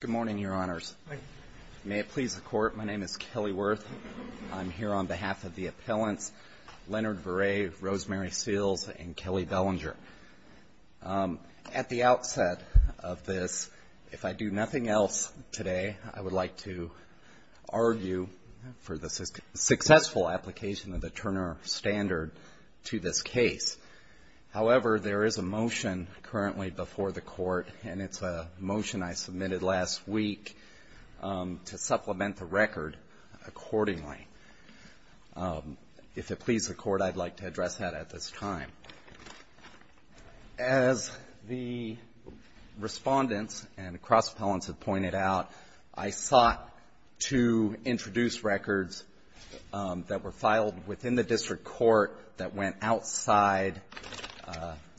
Good morning, Your Honors. May it please the Court, my name is Kelly Wirth. I'm here on behalf of the appellants Leonard Vare, Rosemary Seals, and Kelly Bellinger. At the outset of this, if I do nothing else today, I would like to argue for the successful application of the Turner Standard to this case. However, there is a motion currently before the Court, and it's a motion I submitted last week to supplement the record accordingly. If it please the Court, I'd like to address that at this time. As the Respondents and the cross-appellants have pointed out, I sought to introduce records that were filed within the district court that went outside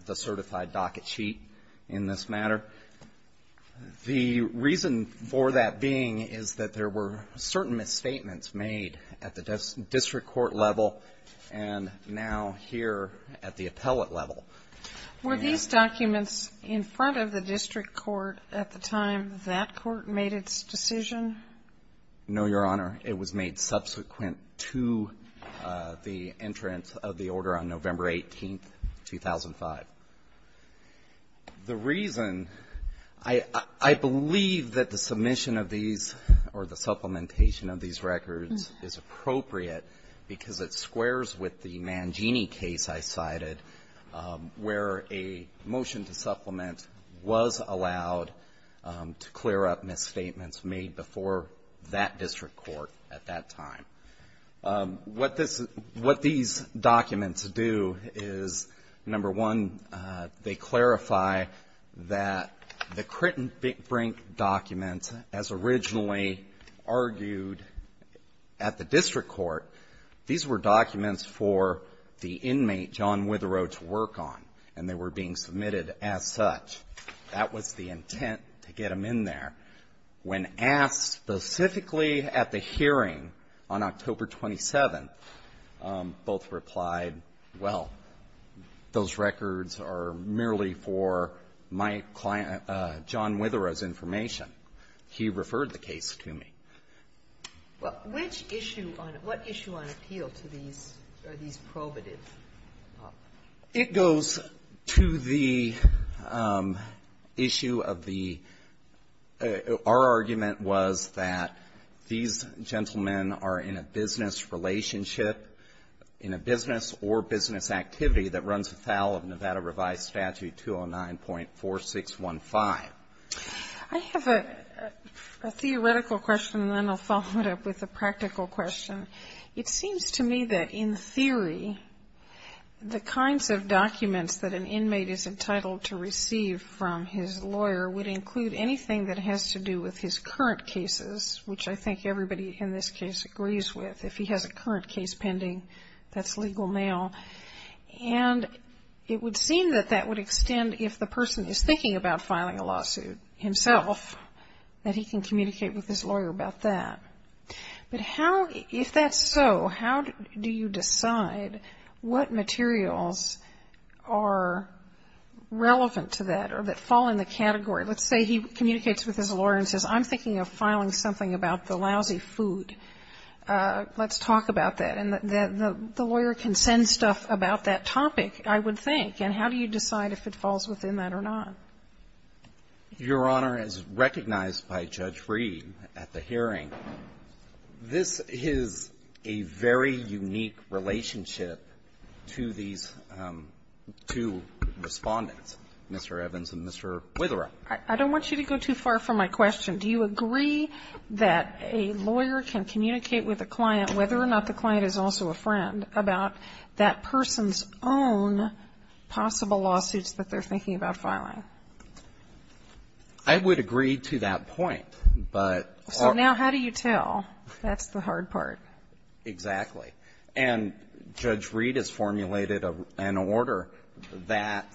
the certified docket sheet in this matter. The reason for that being is that there were certain misstatements made at the district court level and now here at the appellate level. Were these documents in front of the district court at the time that court made its decision? No, Your Honor. It was made subsequent to the entrance of the order on November 18, 2005. The reason, I believe that the submission of these or the supplementation of these records is appropriate because it squares with the Mangini case I cited, where a motion to supplement was allowed to clear up misstatements made before that district court at that time. What these documents do is, number one, they clarify that the Critten-Brink document, as originally argued at the district court, these were documents for the inmate, John Withereau, to work on, and they were being submitted as such. That was the intent to get him in there. When asked specifically at the hearing on October 27, both replied, well, those records are merely for my client, John Withereau's, information. He referred the case to me. Well, which issue on what issue on appeal to these are these probative? It goes to the issue of the, our argument was that these gentlemen are in a business relationship, in a business or business activity that runs without a Nevada revised statute 209.4615. I have a theoretical question, and then I'll follow it up with a practical question. It seems to me that in theory, the kinds of documents that an inmate is entitled to receive from his lawyer would include anything that has to do with his current cases, which I think everybody in this case agrees with. If he has a current case pending, that's legal now. And it would seem that that would extend if the person is thinking about filing a lawsuit himself, that he can communicate with his lawyer about that. But how, if that's so, how do you decide what materials are relevant to that or that fall in the category? Let's say he communicates with his lawyer and says, I'm thinking of filing something about the lousy food. Let's talk about that. And the lawyer can send stuff about that topic, I would think. And how do you decide if it falls within that or not? Your Honor, as recognized by Judge Reed at the hearing, this is a very unique relationship to these two Respondents, Mr. Evans and Mr. Witherell. I don't want you to go too far from my question. Do you agree that a lawyer can communicate with a client, whether or not the client is also a friend, about that person's own possible lawsuits that they're thinking about filing? I would agree to that point. So now how do you tell? That's the hard part. Exactly. And Judge Reed has formulated an order that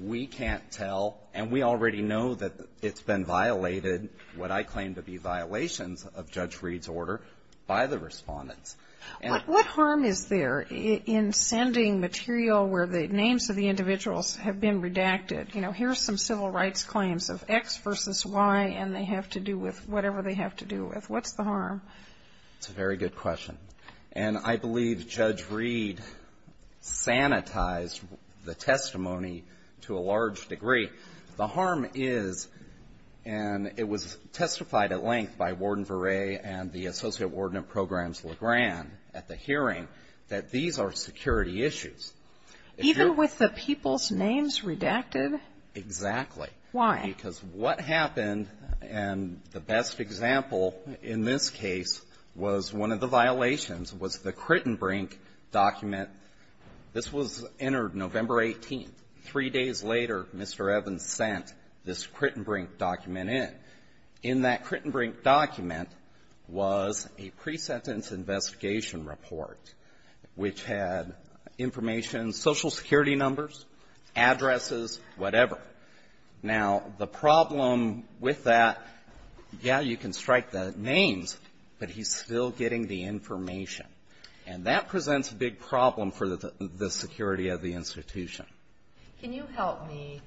we can't tell, and we already know that it's been violated, what I claim to be violations of Judge Reed's order, by the Respondents. What harm is there in sending material where the names of the individuals have been redacted? You know, here's some civil rights claims of X versus Y, and they have to do with whatever they have to do with. What's the harm? It's a very good question. And I believe Judge Reed sanitized the testimony to a large degree. The harm is, and it was testified at length by Warden Varee and the Associate Attorney at the hearing, that these are security issues. Even with the people's names redacted? Exactly. Why? Because what happened, and the best example in this case was one of the violations was the Crittenbrink document. This was entered November 18th. Three days later, Mr. Evans sent this Crittenbrink document in. And in that Crittenbrink document was a pre-sentence investigation report which had information, Social Security numbers, addresses, whatever. Now, the problem with that, yeah, you can strike the names, but he's still getting the information. And that presents a big problem for the security of the institution. Can you help me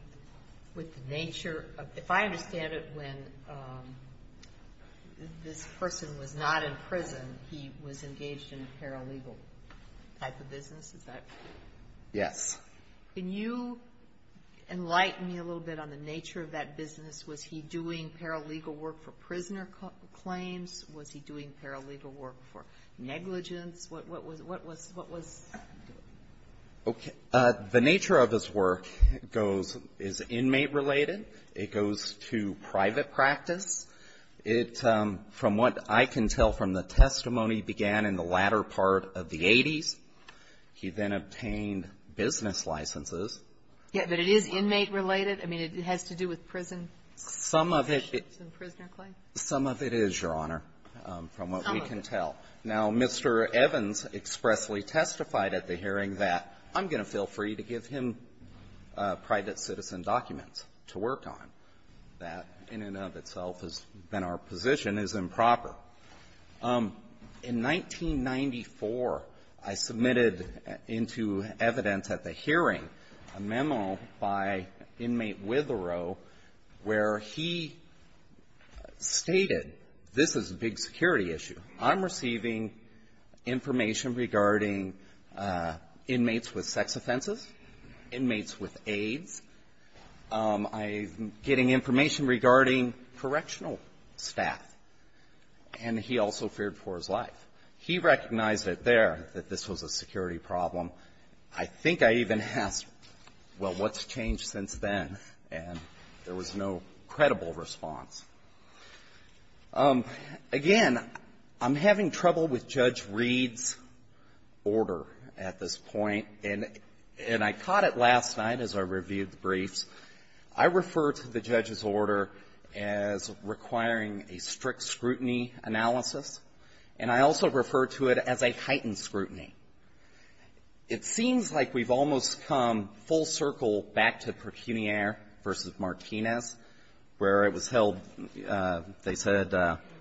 with the nature of, if I understand it, when this person was not in prison, he was engaged in a paralegal type of business? Is that? Yes. Can you enlighten me a little bit on the nature of that business? Was he doing paralegal work for prisoner claims? Was he doing paralegal work for negligence? What was, what was? Okay. The nature of his work goes, is inmate-related. It goes to private practice. It, from what I can tell from the testimony began in the latter part of the 80s, he then obtained business licenses. Yeah. But it is inmate-related? I mean, it has to do with prison? Some of it is, Your Honor, from what we can tell. Some of it. Now, Mr. Evans expressly testified at the hearing that, I'm going to feel free to give him private citizen documents to work on. That, in and of itself, has been our position, is improper. In 1994, I submitted into evidence at the hearing a memo by inmate Witherow where he stated, this is a big security issue. I'm receiving information regarding inmates with sex offenses, inmates with AIDS. I'm getting information regarding correctional staff. And he also feared for his life. He recognized it there that this was a security problem. I think I even asked, well, what's changed since then? And there was no credible response. Again, I'm having trouble with Judge Reed's order at this point. And I caught it last night as I reviewed the briefs. I refer to the judge's order as requiring a strict scrutiny analysis, and I also refer to it as a heightened scrutiny. It seems like we've almost come full circle back to Pecuniere v. Martinez, where it was held, they said,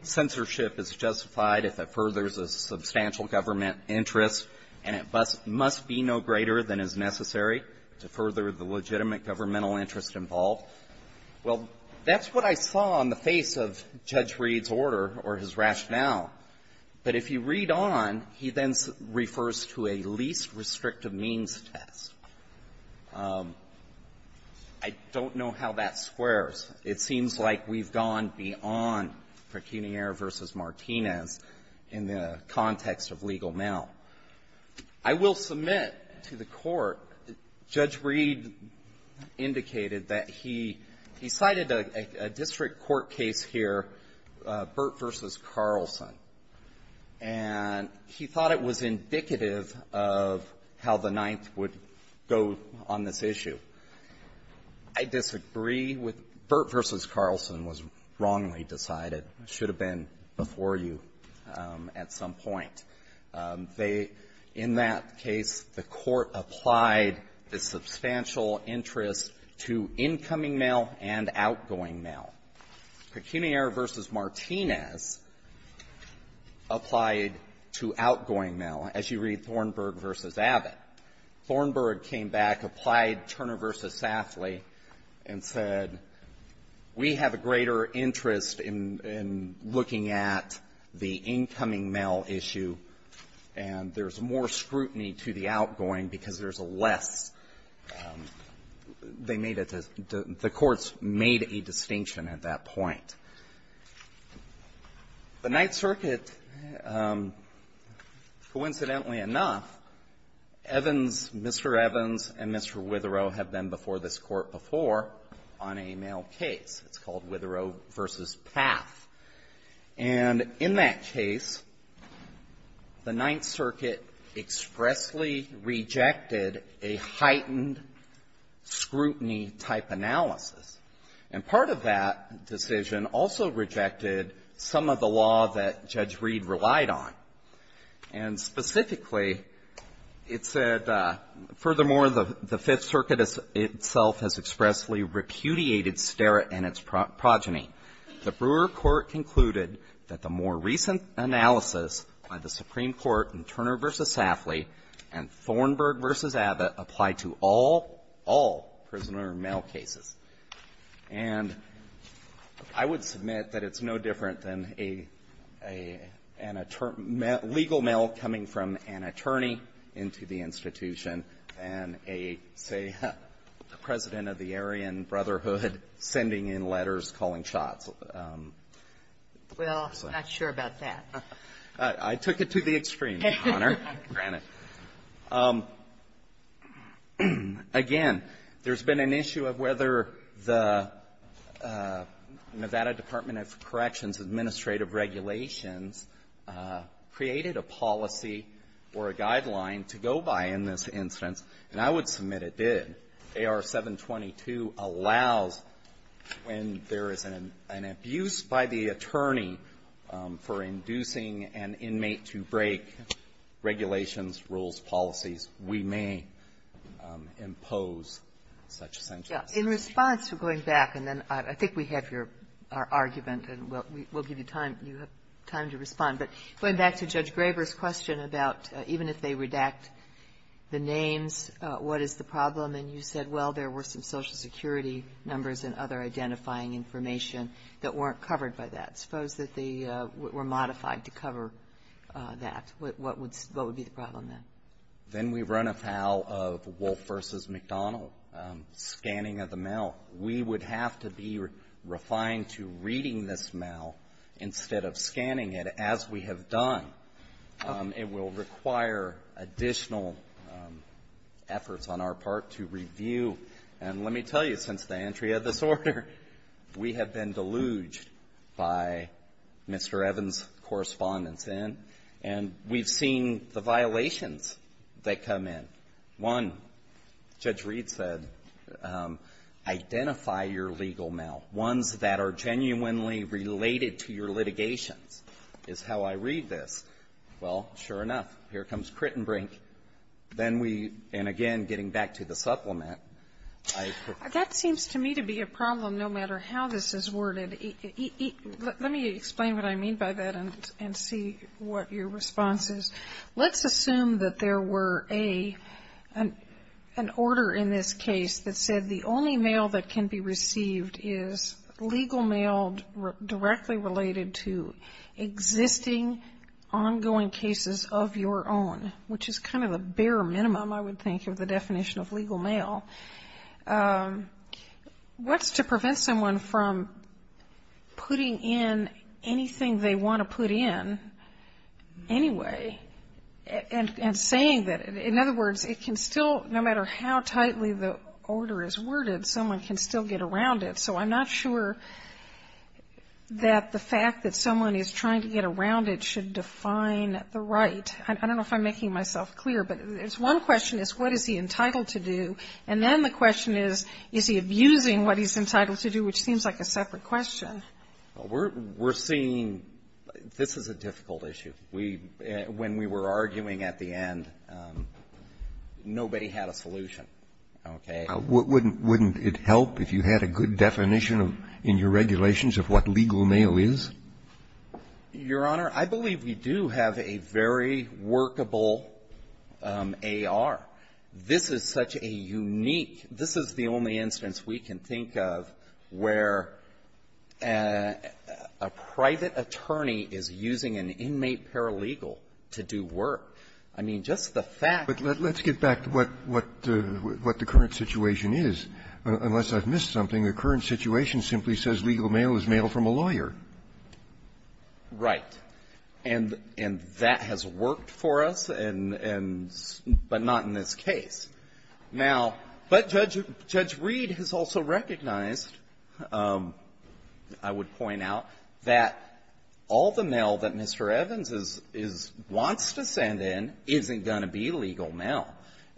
censorship is justified if it furthers a substantial government interest, and it must be no greater than is necessary to further the legitimate governmental interest involved. Well, that's what I saw on the face of Judge Reed's order or his rationale. But if you read on, he then refers to a least restrictive means test. I don't know how that squares. It seems like we've gone beyond Pecuniere v. Martinez in the context of legal mail. I will submit to the Court, Judge Reed indicated that he cited a district court case here, Burt v. Carlson, and he thought it was indicative of how the Ninth would go on this issue. I disagree with Burt v. Carlson was wrongly decided. It should have been before you at some point. They, in that case, the Court applied the substantial interest to incoming mail and outgoing mail. Pecuniere v. Martinez applied to outgoing mail, as you read Thornburg v. Abbott. Thornburg came back, applied Turner v. Safley, and said, we have a greater interest in looking at the incoming mail issue, and there's more scrutiny to the outgoing because there's a less they made it to the courts made a distinction at that point. The Ninth Circuit, coincidentally enough, Evans, Mr. Evans, and Mr. It's called Witherow v. Path. And in that case, the Ninth Circuit expressly rejected a heightened scrutiny-type analysis. And part of that decision also rejected some of the law that Judge Reed relied on. And specifically, it said, furthermore, the Fifth Circuit itself has expressly repudiated Sterrett and its progeny. The Brewer Court concluded that the more recent analysis by the Supreme Court in Turner v. Safley and Thornburg v. Abbott apply to all, all prisoner mail cases. And I would submit that it's no different than a, an attorney, legal mail coming from an attorney into the institution and a, say, the president of the Aryan Brotherhood sending in letters calling shots. Well, I'm not sure about that. I took it to the extreme, Your Honor, granted. Again, there's been an issue of whether the Nevada Department of Corrections administrative regulations created a policy or a guideline to go by in this instance, and I would submit it did. AR-722 allows when there is an abuse by the attorney for inducing an inmate to break regulations, rules, policies, we may impose such sanctions. In response, we're going back, and then I think we have your argument, and we'll give you time. You have time to respond. But going back to Judge Graber's question about even if they redact the names, what is the problem? And you said, well, there were some Social Security numbers and other identifying information that weren't covered by that. Suppose that they were modified to cover that. What would be the problem, then? Then we run afoul of Wolfe v. McDonald, scanning of the mail. We would have to be refined to reading this mail instead of scanning it as we have done. It will require additional efforts on our part to review. And let me tell you, since the entry of this order, we have been deluged by Mr. Evans' correspondence in, and we've seen the related to your litigations is how I read this. Well, sure enough, here comes Crittenbrink. Then we, and again, getting back to the supplement, I think we're going to have to be refined to read this mail. Sotomayor, that seems to me to be a problem, no matter how this is worded. Let me explain what I mean by that and see what your response is. Let's assume that there were an order in this case that said the only mail that can be received is legal mail directly related to existing ongoing cases of your own, which is kind of a bare minimum, I would think, of the definition of legal mail. What's to prevent someone from putting in anything they want to put in anyway and saying that? In other words, it can still, no matter how tightly the order is worded, someone can still get around it. So I'm not sure that the fact that someone is trying to get around it should define the right. I don't know if I'm making myself clear, but there's one question is, what is he entitled to do? And then the question is, is he abusing what he's a separate question? Well, we're seeing this is a difficult issue. We, when we were arguing at the end, nobody had a solution, okay? Wouldn't it help if you had a good definition in your regulations of what legal mail is? Your Honor, I believe we do have a very workable A.R. This is such a unique, this is the only instance we can think of where a private attorney is using an inmate paralegal to do work. I mean, just the fact that the ---- But let's get back to what the current situation is. Unless I've missed something, the current situation simply says legal mail is mail from a lawyer. Right. And that has worked for us, and but not in this case. Now, but Judge Reid has also recognized, I would point out, that all the mail that Mr. Evans is ---- wants to send in isn't going to be legal mail.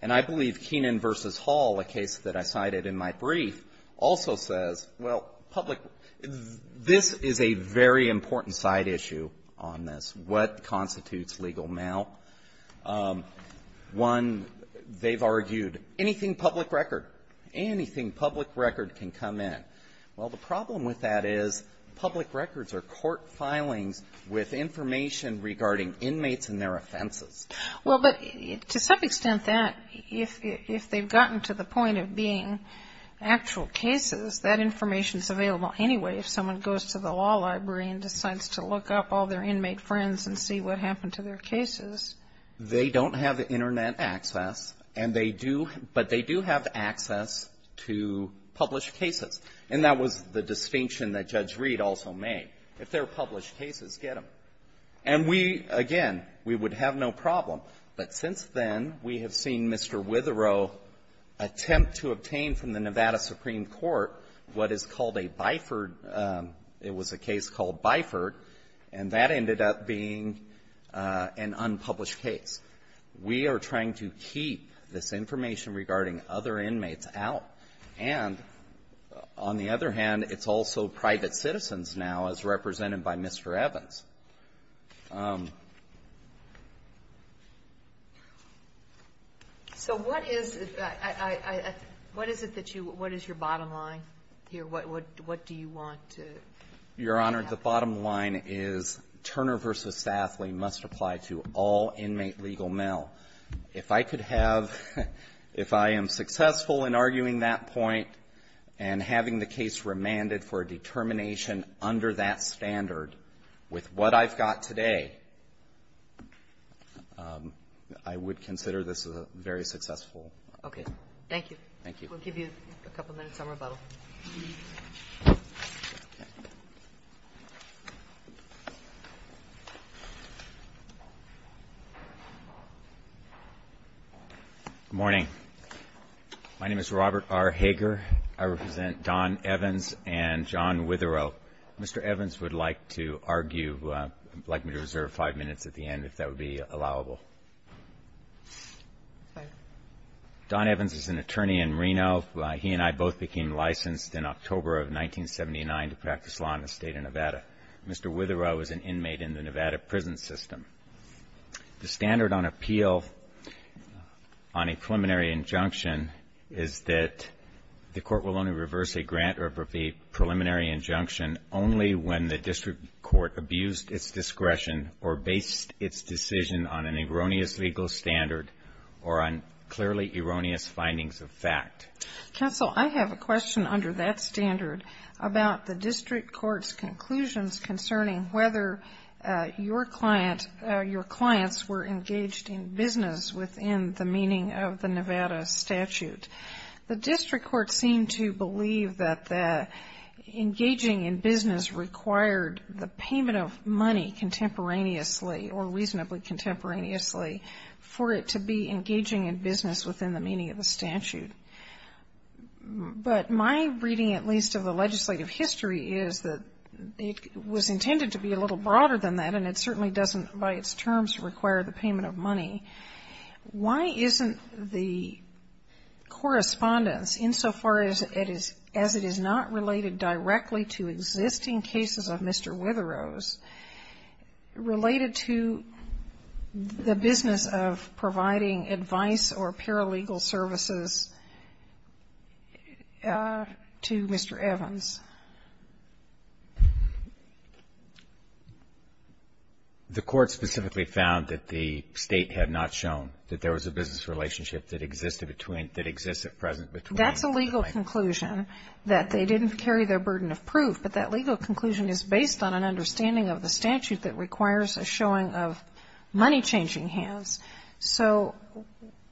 And I believe Keenan v. Hall, a case that I cited in my brief, also says, well, public ---- this is a very important side issue on this, what constitutes legal mail. One, they've argued anything public record, anything public record can come in. Well, the problem with that is public records are court filings with information regarding inmates and their offenses. Well, but to some extent that, if they've gotten to the point of being actual cases, that information is available anyway if someone goes to the law library and decides to look up all their inmate friends and see what happened to their cases. They don't have Internet access, and they do ---- but they do have access to published cases. And that was the distinction that Judge Reid also made. If they're published cases, get them. And we, again, we would have no problem. But since then, we have seen Mr. Witherow attempt to obtain from the Nevada Supreme Court what is called a bifurcated, it was a case called bifurcated, and that ended up being an unpublished case. We are trying to keep this information regarding other inmates out. And on the other hand, it's also private citizens now, as represented by Mr. Evans. So what is it that you ---- what is your bottom line here? What do you want to ---- Your Honor, the bottom line is Turner v. Saffley must apply to all inmate legal mail. If I could have ---- if I am successful in arguing that point and having the case remanded for a determination under that standard with what I've got today, I would consider this a very successful. Okay. Thank you. Thank you. We'll give you a couple minutes on rebuttal. Good morning. My name is Robert R. Hager. I represent Don Evans and John Witherow. Mr. Evans would like to argue, would like me to reserve five minutes at the end if that would be allowable. Okay. Don Evans is an attorney in Reno. He and I both became licensed in October of 1979 to practice law in the State of Nevada. Mr. Witherow is an inmate in the Nevada prison system. The standard on appeal on a preliminary injunction is that the court will only reverse a grant or a preliminary injunction only when the district court abused its discretion or based its decision on an erroneous legal standard or on clearly erroneous findings of fact. Counsel, I have a question under that standard about the district court's conclusions concerning whether your clients were engaged in business within the meaning of the Nevada statute. The district court seemed to believe that engaging in business required the payment of money contemporaneously or reasonably contemporaneously for it to be engaging in business within the meaning of the statute. But my reading, at least, of the legislative history is that it was intended to be a little broader than that, and it certainly doesn't by its terms require the payment of money. Why isn't the correspondence, insofar as it is not related directly to existing cases of Mr. Witherow's, related to the business of providing advice or paralegal services to Mr. Evans? The court specifically found that the State had not shown that there was a business relationship that existed between, that exists at present between the two clients. That's a legal conclusion that they didn't carry their burden of proof, but that legal conclusion is based on an understanding of the statute that requires a showing of money-changing hands. So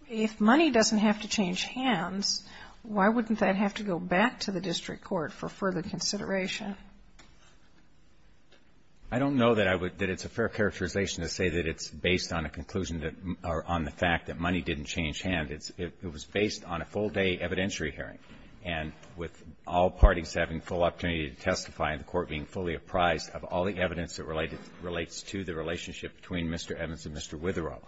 if money doesn't have to change hands, why wouldn't that have to go back to the district court for further consideration? I don't know that I would, that it's a fair characterization to say that it's based on a conclusion that, or on the fact that money didn't change hands. It was based on a full-day evidentiary hearing, and with all parties having full opportunity to testify and the court being fully apprised of all the evidence that relates to the relationship between Mr. Evans and Mr. Witherow.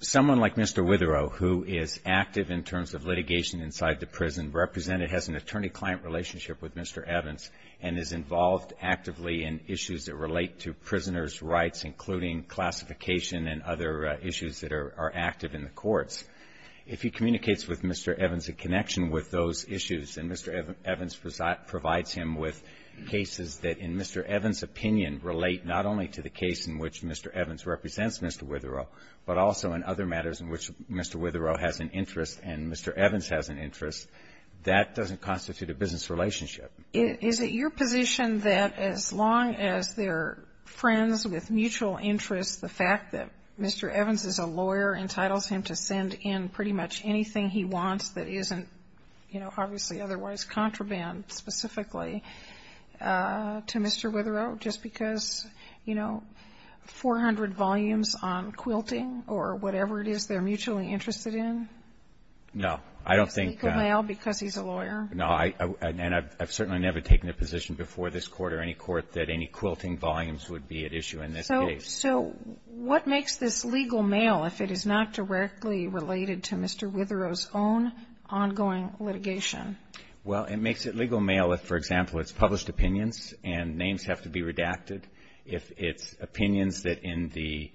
Someone like Mr. Witherow, who is active in terms of litigation inside the prison, represented, has an attorney-client relationship with Mr. Evans, and is involved actively in issues that relate to prisoners' rights, including classification and other issues that are active in the courts. If he communicates with Mr. Evans in connection with those issues, and Mr. Evans provides him with cases that in Mr. Witherow's opinion relate not only to the case in which Mr. Evans represents Mr. Witherow, but also in other matters in which Mr. Witherow has an interest and Mr. Evans has an interest, that doesn't constitute a business relationship. Is it your position that as long as they're friends with mutual interests, the fact that Mr. Evans is a lawyer entitles him to send in pretty much anything he wants to do, just because, you know, 400 volumes on quilting or whatever it is they're mutually interested in? No, I don't think that. It's legal mail because he's a lawyer? No, and I've certainly never taken a position before this court or any court that any quilting volumes would be at issue in this case. So what makes this legal mail if it is not directly related to Mr. Witherow's own ongoing litigation? Well, it makes it legal mail if, for example, it's published opinions and names have to be redacted, if it's opinions that in the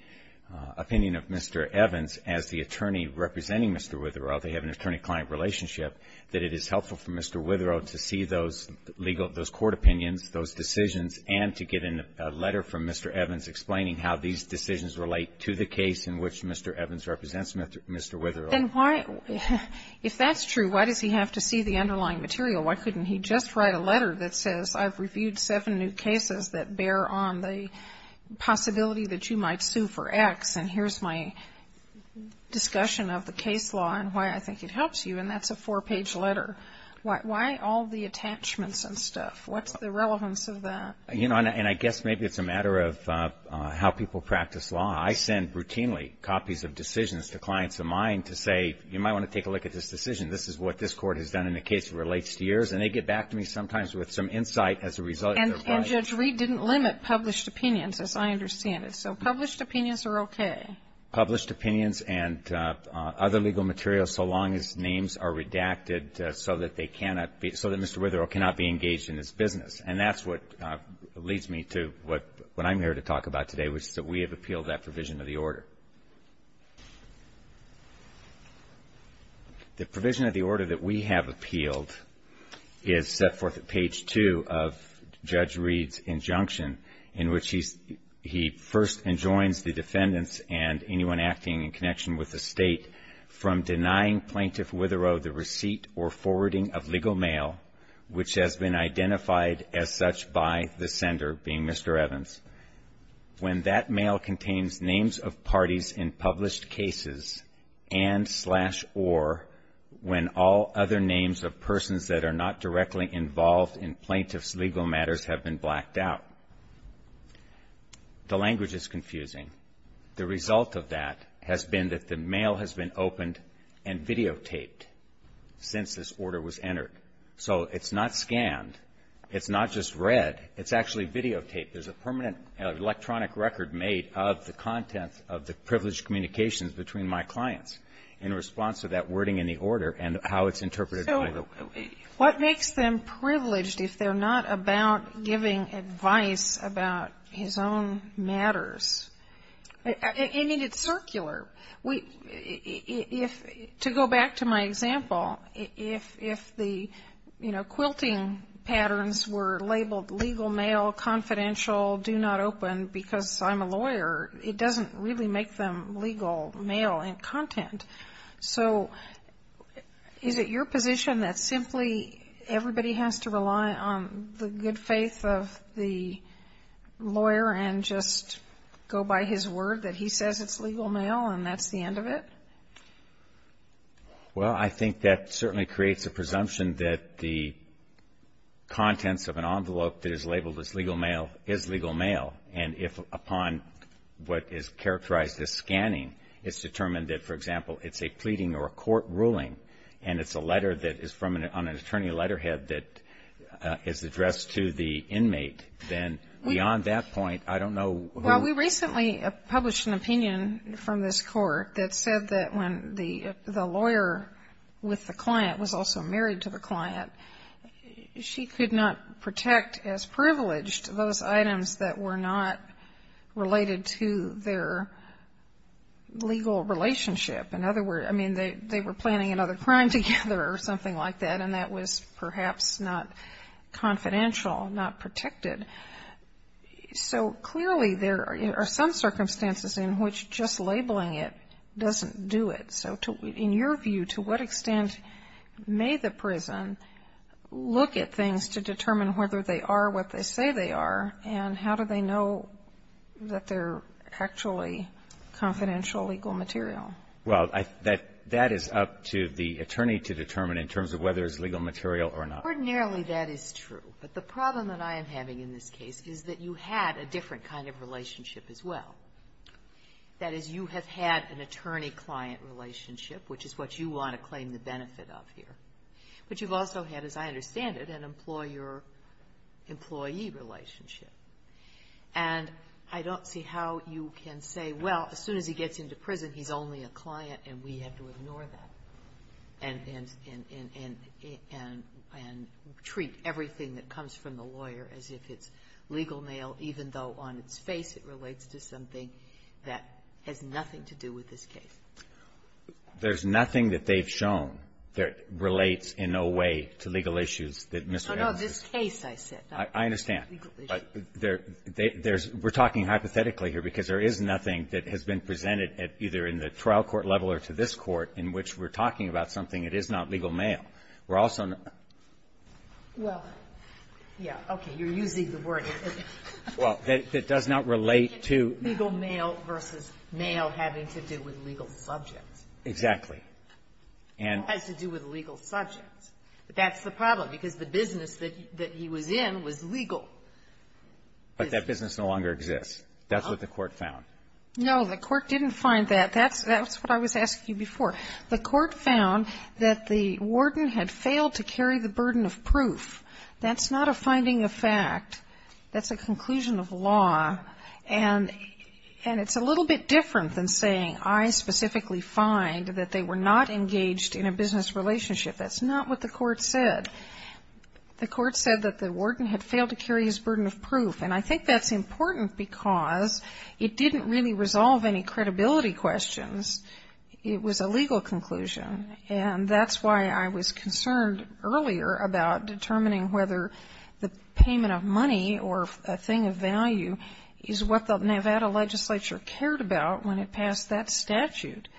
opinion of Mr. Evans as the attorney representing Mr. Witherow, they have an attorney-client relationship, that it is helpful for Mr. Witherow to see those legal, those court opinions, those decisions, and to get in a letter from Mr. Evans explaining how these decisions relate to the case in which Mr. Evans represents Mr. Witherow. Then why, if that's true, why does he have to see the underlying material? Why couldn't he just write a letter that says, I've reviewed seven new cases that bear on the possibility that you might sue for X and here's my discussion of the case law and why I think it helps you, and that's a four-page letter. Why all the attachments and stuff? What's the relevance of that? You know, and I guess maybe it's a matter of how people practice law. I send routinely copies of decisions to clients of mine to say, you might want to take a look at this decision. This is what this court has done in a case that relates to yours, and they get back to me sometimes with some insight as a result of their findings. And Judge Reed didn't limit published opinions, as I understand it. So published opinions are okay? Published opinions and other legal materials, so long as names are redacted so that they cannot be, so that Mr. Witherow cannot be engaged in this business. And that's what leads me to what I'm here to talk about today, which is that we have appealed that provision of the order. The provision of the order that we have appealed is set forth at page two of Judge Reed's injunction, in which he first enjoins the defendants and anyone acting in connection with the state from denying Plaintiff Witherow the receipt or forwarding of legal mail, which has been identified as such by the sender being Mr. Evans. When that mail contains names of parties in published cases and slash or when all other names of persons that are not directly involved in plaintiff's legal matters have been blacked out. The language is confusing. The result of that has been that the mail has been opened and videotaped since this order was entered. So it's not scanned. It's not just read. It's actually videotaped. There's a permanent electronic record made of the contents of the privileged communications between my clients in response to that wording in the order and how it's interpreted. So what makes them privileged if they're not about giving advice about his own matters? I mean, it's circular. To go back to my example, if the, you know, quilting patterns were labeled legal mail, confidential, do not open because I'm a lawyer, it doesn't really make them legal mail in content. So is it your position that simply everybody has to rely on the good faith of the lawyer and just go by his word that he says it's legal mail and that's the end of it? Well, I think that certainly creates a presumption that the contents of an envelope that is labeled as legal mail is legal mail. And if upon what is characterized as scanning, it's determined that, for example, it's a pleading or a court ruling and it's a letter that is from an attorney letterhead that is addressed to the inmate, then beyond that point, I don't know who else. Well, we recently published an opinion from this court that said that when the prison does not protect as privileged those items that were not related to their legal relationship, in other words, I mean, they were planning another crime together or something like that and that was perhaps not confidential, not protected. So clearly there are some circumstances in which just labeling it doesn't do it. So in your view, to what extent may the prison look at things to determine whether they are what they say they are and how do they know that they're actually confidential legal material? Well, that is up to the attorney to determine in terms of whether it's legal material or not. Ordinarily that is true. But the problem that I am having in this case is that you had a different kind of relationship as well. That is, you have had an attorney-client relationship, which is what you want to claim the benefit of here. But you've also had, as I understand it, an employer-employee relationship. And I don't see how you can say, well, as soon as he gets into prison, he's only a client and we have to ignore that and treat everything that comes from the lawyer as if it's legal mail even though on its face it relates to something that has nothing to do with this case. There's nothing that they've shown that relates in no way to legal issues that Mr. Adams has. No, no. This case, I said. I understand. But there's we're talking hypothetically here because there is nothing that has been presented at either in the trial court level or to this court in which we're talking about something that is not legal mail. We're also not. Well, yeah. You're using the word. Well, that does not relate to. Legal mail versus mail having to do with legal subjects. Exactly. And. Has to do with legal subjects. That's the problem because the business that he was in was legal. But that business no longer exists. That's what the court found. No, the court didn't find that. That's what I was asking you before. The court found that the warden had failed to carry the burden of proof. That's not a finding of fact. That's a conclusion of law. And. And it's a little bit different than saying I specifically find that they were not engaged in a business relationship. That's not what the court said. The court said that the warden had failed to carry his burden of proof. And I think that's important because it didn't really resolve any credibility questions. It was a legal conclusion. And that's why I was concerned earlier about determining whether the payment of money or a thing of value is what the Nevada legislature cared about when it passed that statute.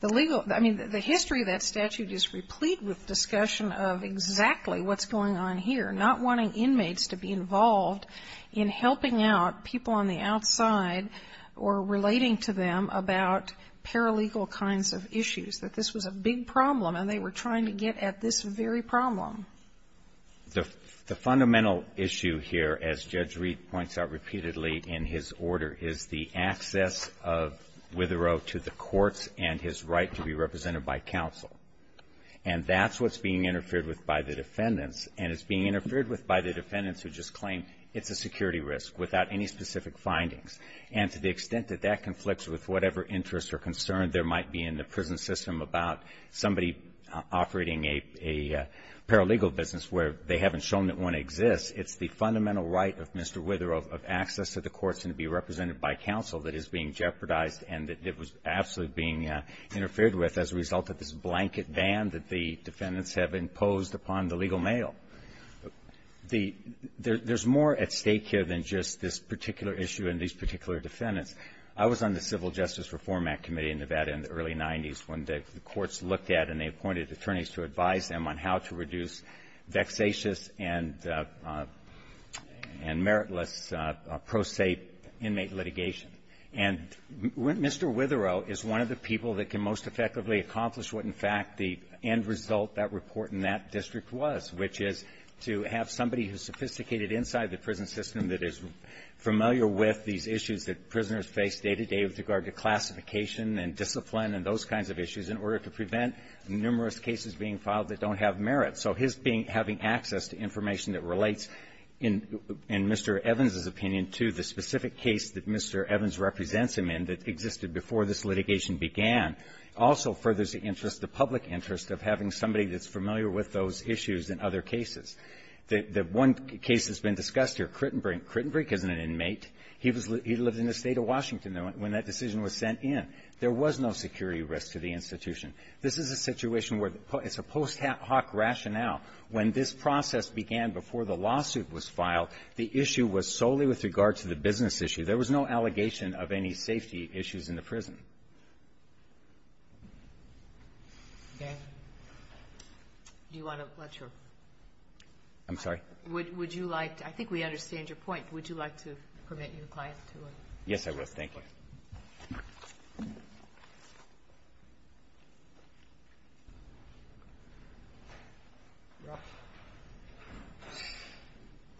The legal. I mean, the history of that statute is replete with discussion of exactly what's going on here. Not wanting inmates to be involved in helping out people on the outside or relating to them about paralegal kinds of issues. That this was a big problem and they were trying to get at this very problem. The fundamental issue here, as Judge Reed points out repeatedly in his order, is the access of Witherow to the courts and his right to be represented by counsel. And that's what's being interfered with by the defendants. And it's being interfered with by the defendants who just claim it's a security risk without any specific findings. And to the extent that that conflicts with whatever interests or concern there might be in the prison system about somebody operating a paralegal business where they haven't shown that one exists, it's the fundamental right of Mr. Witherow of access to the courts and to be represented by counsel that is being jeopardized and that it was absolutely being interfered with as a result of this blanket ban that the defendants have imposed upon the legal male. There's more at stake here than just this particular issue and these particular defendants. I was on the Civil Justice Reform Act Committee in Nevada in the early 90s when the courts looked at and they appointed attorneys to advise them on how to reduce vexatious and meritless pro se inmate litigation. And Mr. Witherow is one of the people that can most effectively accomplish what, in fact, the end result that report in that district was, which is to have somebody who's sophisticated inside the prison system that is familiar with these issues face day to day with regard to classification and discipline and those kinds of issues in order to prevent numerous cases being filed that don't have merit. So his being having access to information that relates in Mr. Evans' opinion to the specific case that Mr. Evans represents him in that existed before this litigation began also furthers the interest, the public interest of having somebody that's familiar with those issues in other cases. The one case that's been discussed here, Crittenbrink. Crittenbrink isn't an inmate. He lived in the State of Washington when that decision was sent in. There was no security risk to the institution. This is a situation where it's a post hoc rationale. When this process began before the lawsuit was filed, the issue was solely with regard to the business issue. There was no allegation of any safety issues in the prison. Okay. Do you want to let your ---- I'm sorry? Would you like to ---- I think we understand your point. Would you like to permit your client to ---- Yes, I would. Thank you.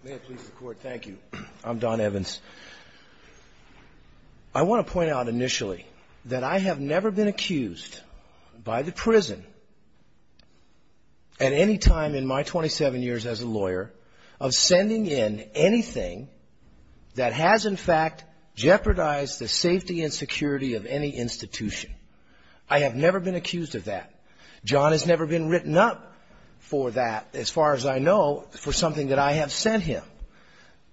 May it please the Court. Thank you. I'm Don Evans. I want to point out initially that I have never been accused by the prison at any time in my 27 years as a lawyer of sending in anything that has, in fact, jeopardized the safety and security of any institution. I have never been accused of that. John has never been written up for that, as far as I know, for something that I have sent him.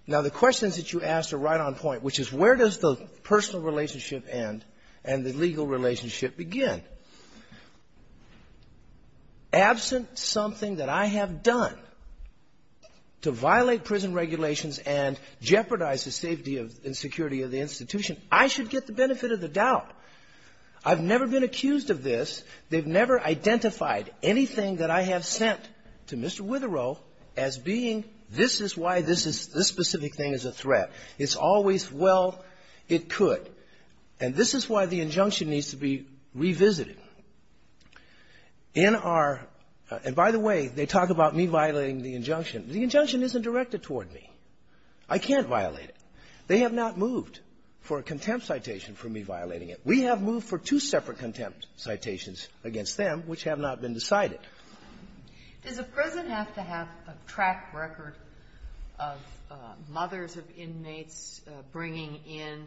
Now, the questions that you asked are right on point, which is where does the personal relationship end and the legal relationship begin? Absent something that I have done to violate prison regulations and jeopardize the safety and security of the institution, I should get the benefit of the doubt. I've never been accused of this. They've never identified anything that I have sent to Mr. Witherow as being, this is why this specific thing is a threat. It's always, well, it could. And this is why the injunction needs to be revisited. In our ---- and by the way, they talk about me violating the injunction. The injunction isn't directed toward me. I can't violate it. They have not moved for a contempt citation for me violating it. We have moved for two separate contempt citations against them, which have not been decided. Kagan. Does a prison have to have a track record of mothers of inmates bringing in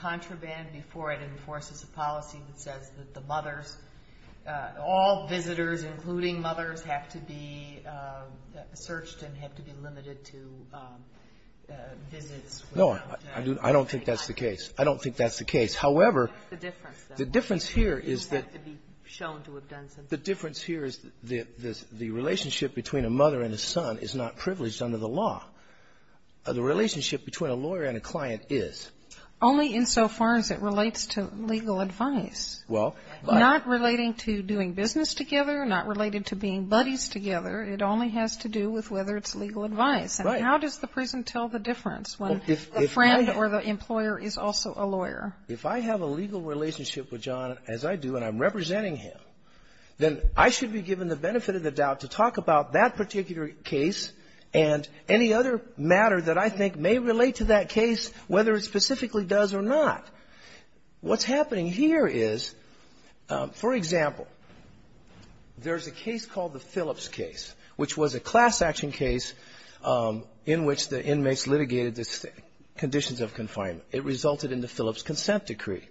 contraband before it enforces a policy that says that the mothers, all visitors, including mothers, have to be searched and have to be limited to visits? No. I don't think that's the case. I don't think that's the case. What I'm saying here is the relationship between a mother and a son is not privileged under the law. The relationship between a lawyer and a client is. Only insofar as it relates to legal advice. Well, I ---- Not relating to doing business together, not related to being buddies together. It only has to do with whether it's legal advice. Right. And how does the prison tell the difference when the friend or the employer is also a lawyer? If I have a legal relationship with John as I do and I'm representing him, then I should be given the benefit of the doubt to talk about that particular case and any other matter that I think may relate to that case, whether it specifically does or not. What's happening here is, for example, there's a case called the Phillips case, which was a class-action case in which the inmates litigated the conditions of confinement. It resulted in the Phillips consent decree.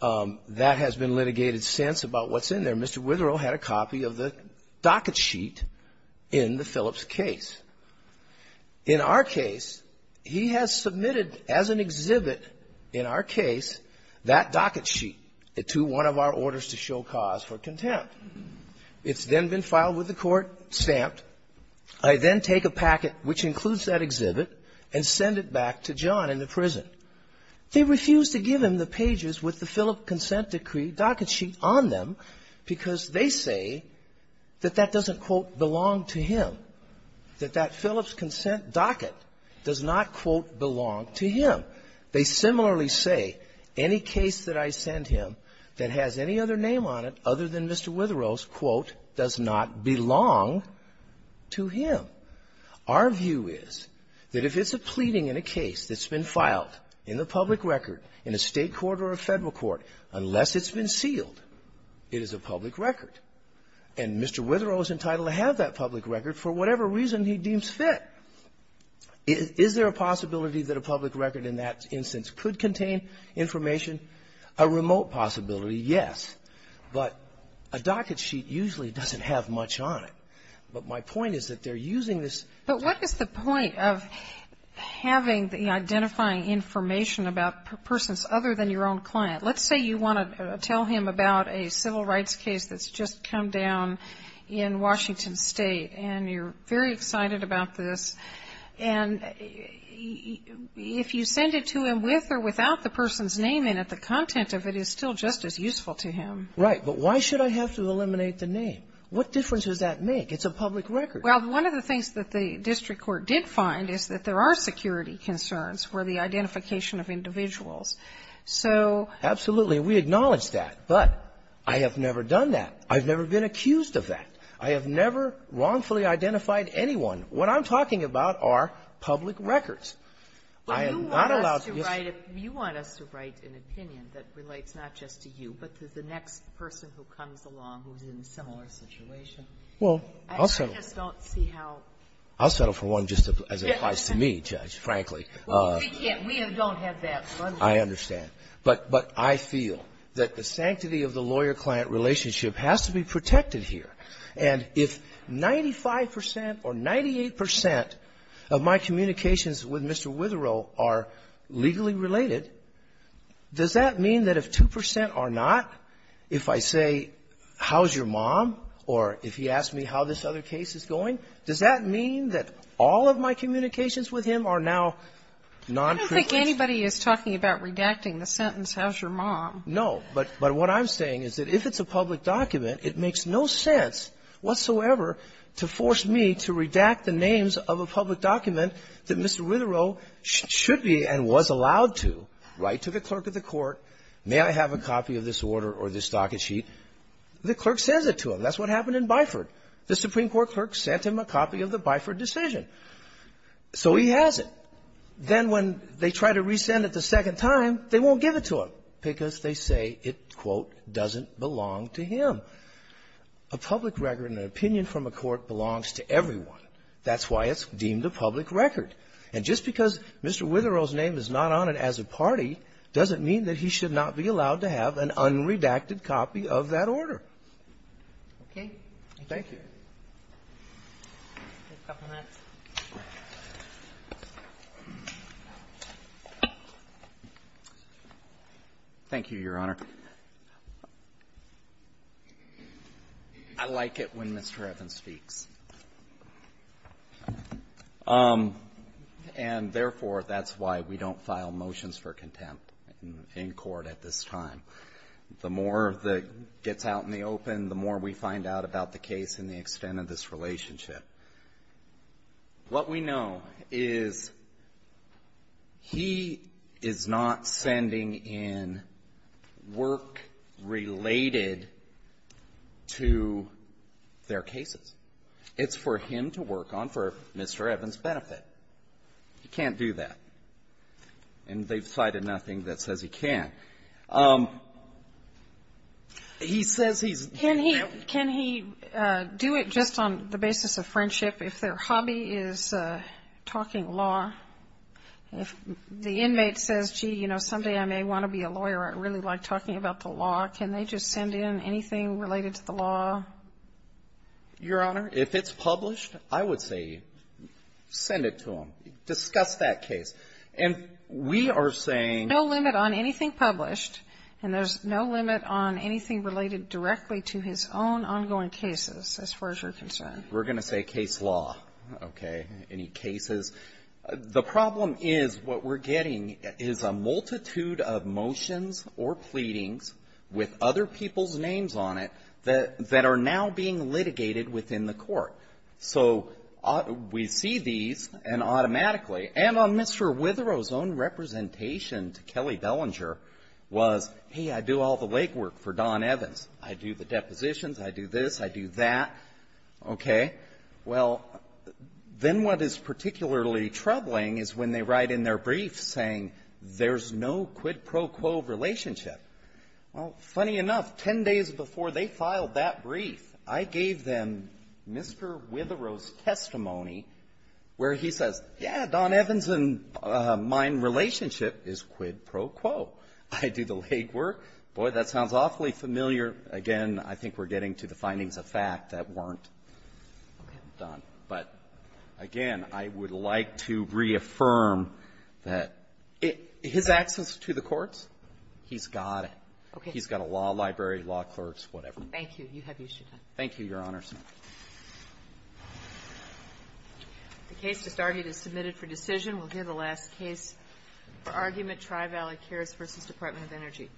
That has been litigated since about what's in there. Mr. Witherow had a copy of the docket sheet in the Phillips case. In our case, he has submitted as an exhibit in our case that docket sheet to one of our orders to show cause for contempt. It's then been filed with the court, stamped. I then take a packet, which includes that exhibit, and send it back to John in the prison. They refuse to give him the pages with the Phillips consent decree docket sheet on them because they say that that doesn't, quote, belong to him, that that Phillips consent docket does not, quote, belong to him. They similarly say any case that I send him that has any other name on it other than Mr. Witherow's, quote, does not belong to him. Our view is that if it's a pleading in a case that's been filed in the public record in a State court or a Federal court, unless it's been sealed, it is a public record. And Mr. Witherow is entitled to have that public record for whatever reason he deems fit. Is there a possibility that a public record in that instance could contain information? A remote possibility, yes. But a docket sheet usually doesn't have much on it. But my point is that they're using this. But what is the point of having the identifying information about persons other than your own client? Let's say you want to tell him about a civil rights case that's just come down in Washington State, and you're very excited about this. And if you send it to him with or without the person's name in it, the content of it is still just as useful to him. Right. But why should I have to eliminate the name? What difference does that make? It's a public record. Well, one of the things that the district court did find is that there are security concerns for the identification of individuals. So ---- Absolutely. We acknowledge that. But I have never done that. I've never been accused of that. I have never wrongfully identified anyone. What I'm talking about are public records. I am not allowed to ---- Mr. Wright, if you want us to write an opinion that relates not just to you, but to the next person who comes along who's in a similar situation. Well, I'll settle. I just don't see how ---- I'll settle for one just as advice to me, Judge, frankly. We can't. We don't have that funding. I understand. But I feel that the sanctity of the lawyer-client relationship has to be protected And if 95 percent or 98 percent of my communications with Mr. Witherow are legally related, does that mean that if 2 percent are not, if I say, how's your mom, or if he asks me how this other case is going, does that mean that all of my communications with him are now non----- I don't think anybody is talking about redacting the sentence, how's your mom. No. But what I'm saying is that if it's a public document, it makes no sense whatsoever to force me to redact the names of a public document that Mr. Witherow should be and was allowed to write to the clerk of the court, may I have a copy of this order or this docket sheet. The clerk sends it to him. That's what happened in Byford. The Supreme Court clerk sent him a copy of the Byford decision. So he has it. Then when they try to resend it the second time, they won't give it to him because they say it, quote, doesn't belong to him. A public record and an opinion from a court belongs to everyone. That's why it's deemed a public record. And just because Mr. Witherow's name is not on it as a party doesn't mean that he should not be allowed to have an unredacted copy of that order. Okay. Thank you. A couple minutes. Thank you, Your Honor. I like it when Mr. Evans speaks. And therefore, that's why we don't file motions for contempt in court at this time. The more that gets out in the open, the more we find out about the case and the extent of this relationship. What we know is he is not sending in work related to their cases. It's for him to work on for Mr. Evans' benefit. He can't do that. And they've cited nothing that says he can. He says he's going to do it. Can he do it just on the basis of friendship if their hobby is talking law? If the inmate says, gee, you know, someday I may want to be a lawyer. I really like talking about the law. Can they just send in anything related to the law? Your Honor, if it's published, I would say send it to him. Discuss that case. And we are saying no limit on anything published. And there's no limit on anything related directly to his own ongoing cases, as far as you're concerned. We're going to say case law. Okay. Any cases. The problem is what we're getting is a multitude of motions or pleadings with other people's names on it that are now being litigated within the court. So we see these, and automatically, and on Mr. Witherow's own representation to Kelly Bellinger was, hey, I do all the legwork for Don Evans. I do the depositions. I do this. I do that. Okay. Well, then what is particularly troubling is when they write in their brief saying there's no quid pro quo relationship. Well, funny enough, 10 days before they filed that brief, I gave them Mr. Witherow's testimony where he says, yeah, Don Evans and mine relationship is quid pro quo. I do the legwork. Boy, that sounds awfully familiar. Again, I think we're getting to the findings of fact that weren't done. Okay. But, again, I would like to reaffirm that his access to the courts, he's got it. Okay. He's got a law library, law clerks, whatever. Thank you. You have your time. Thank you, Your Honors. Thank you. The case just argued is submitted for decision. We'll hear the last case for argument, Tri-Valley Cares v. Department of Energy.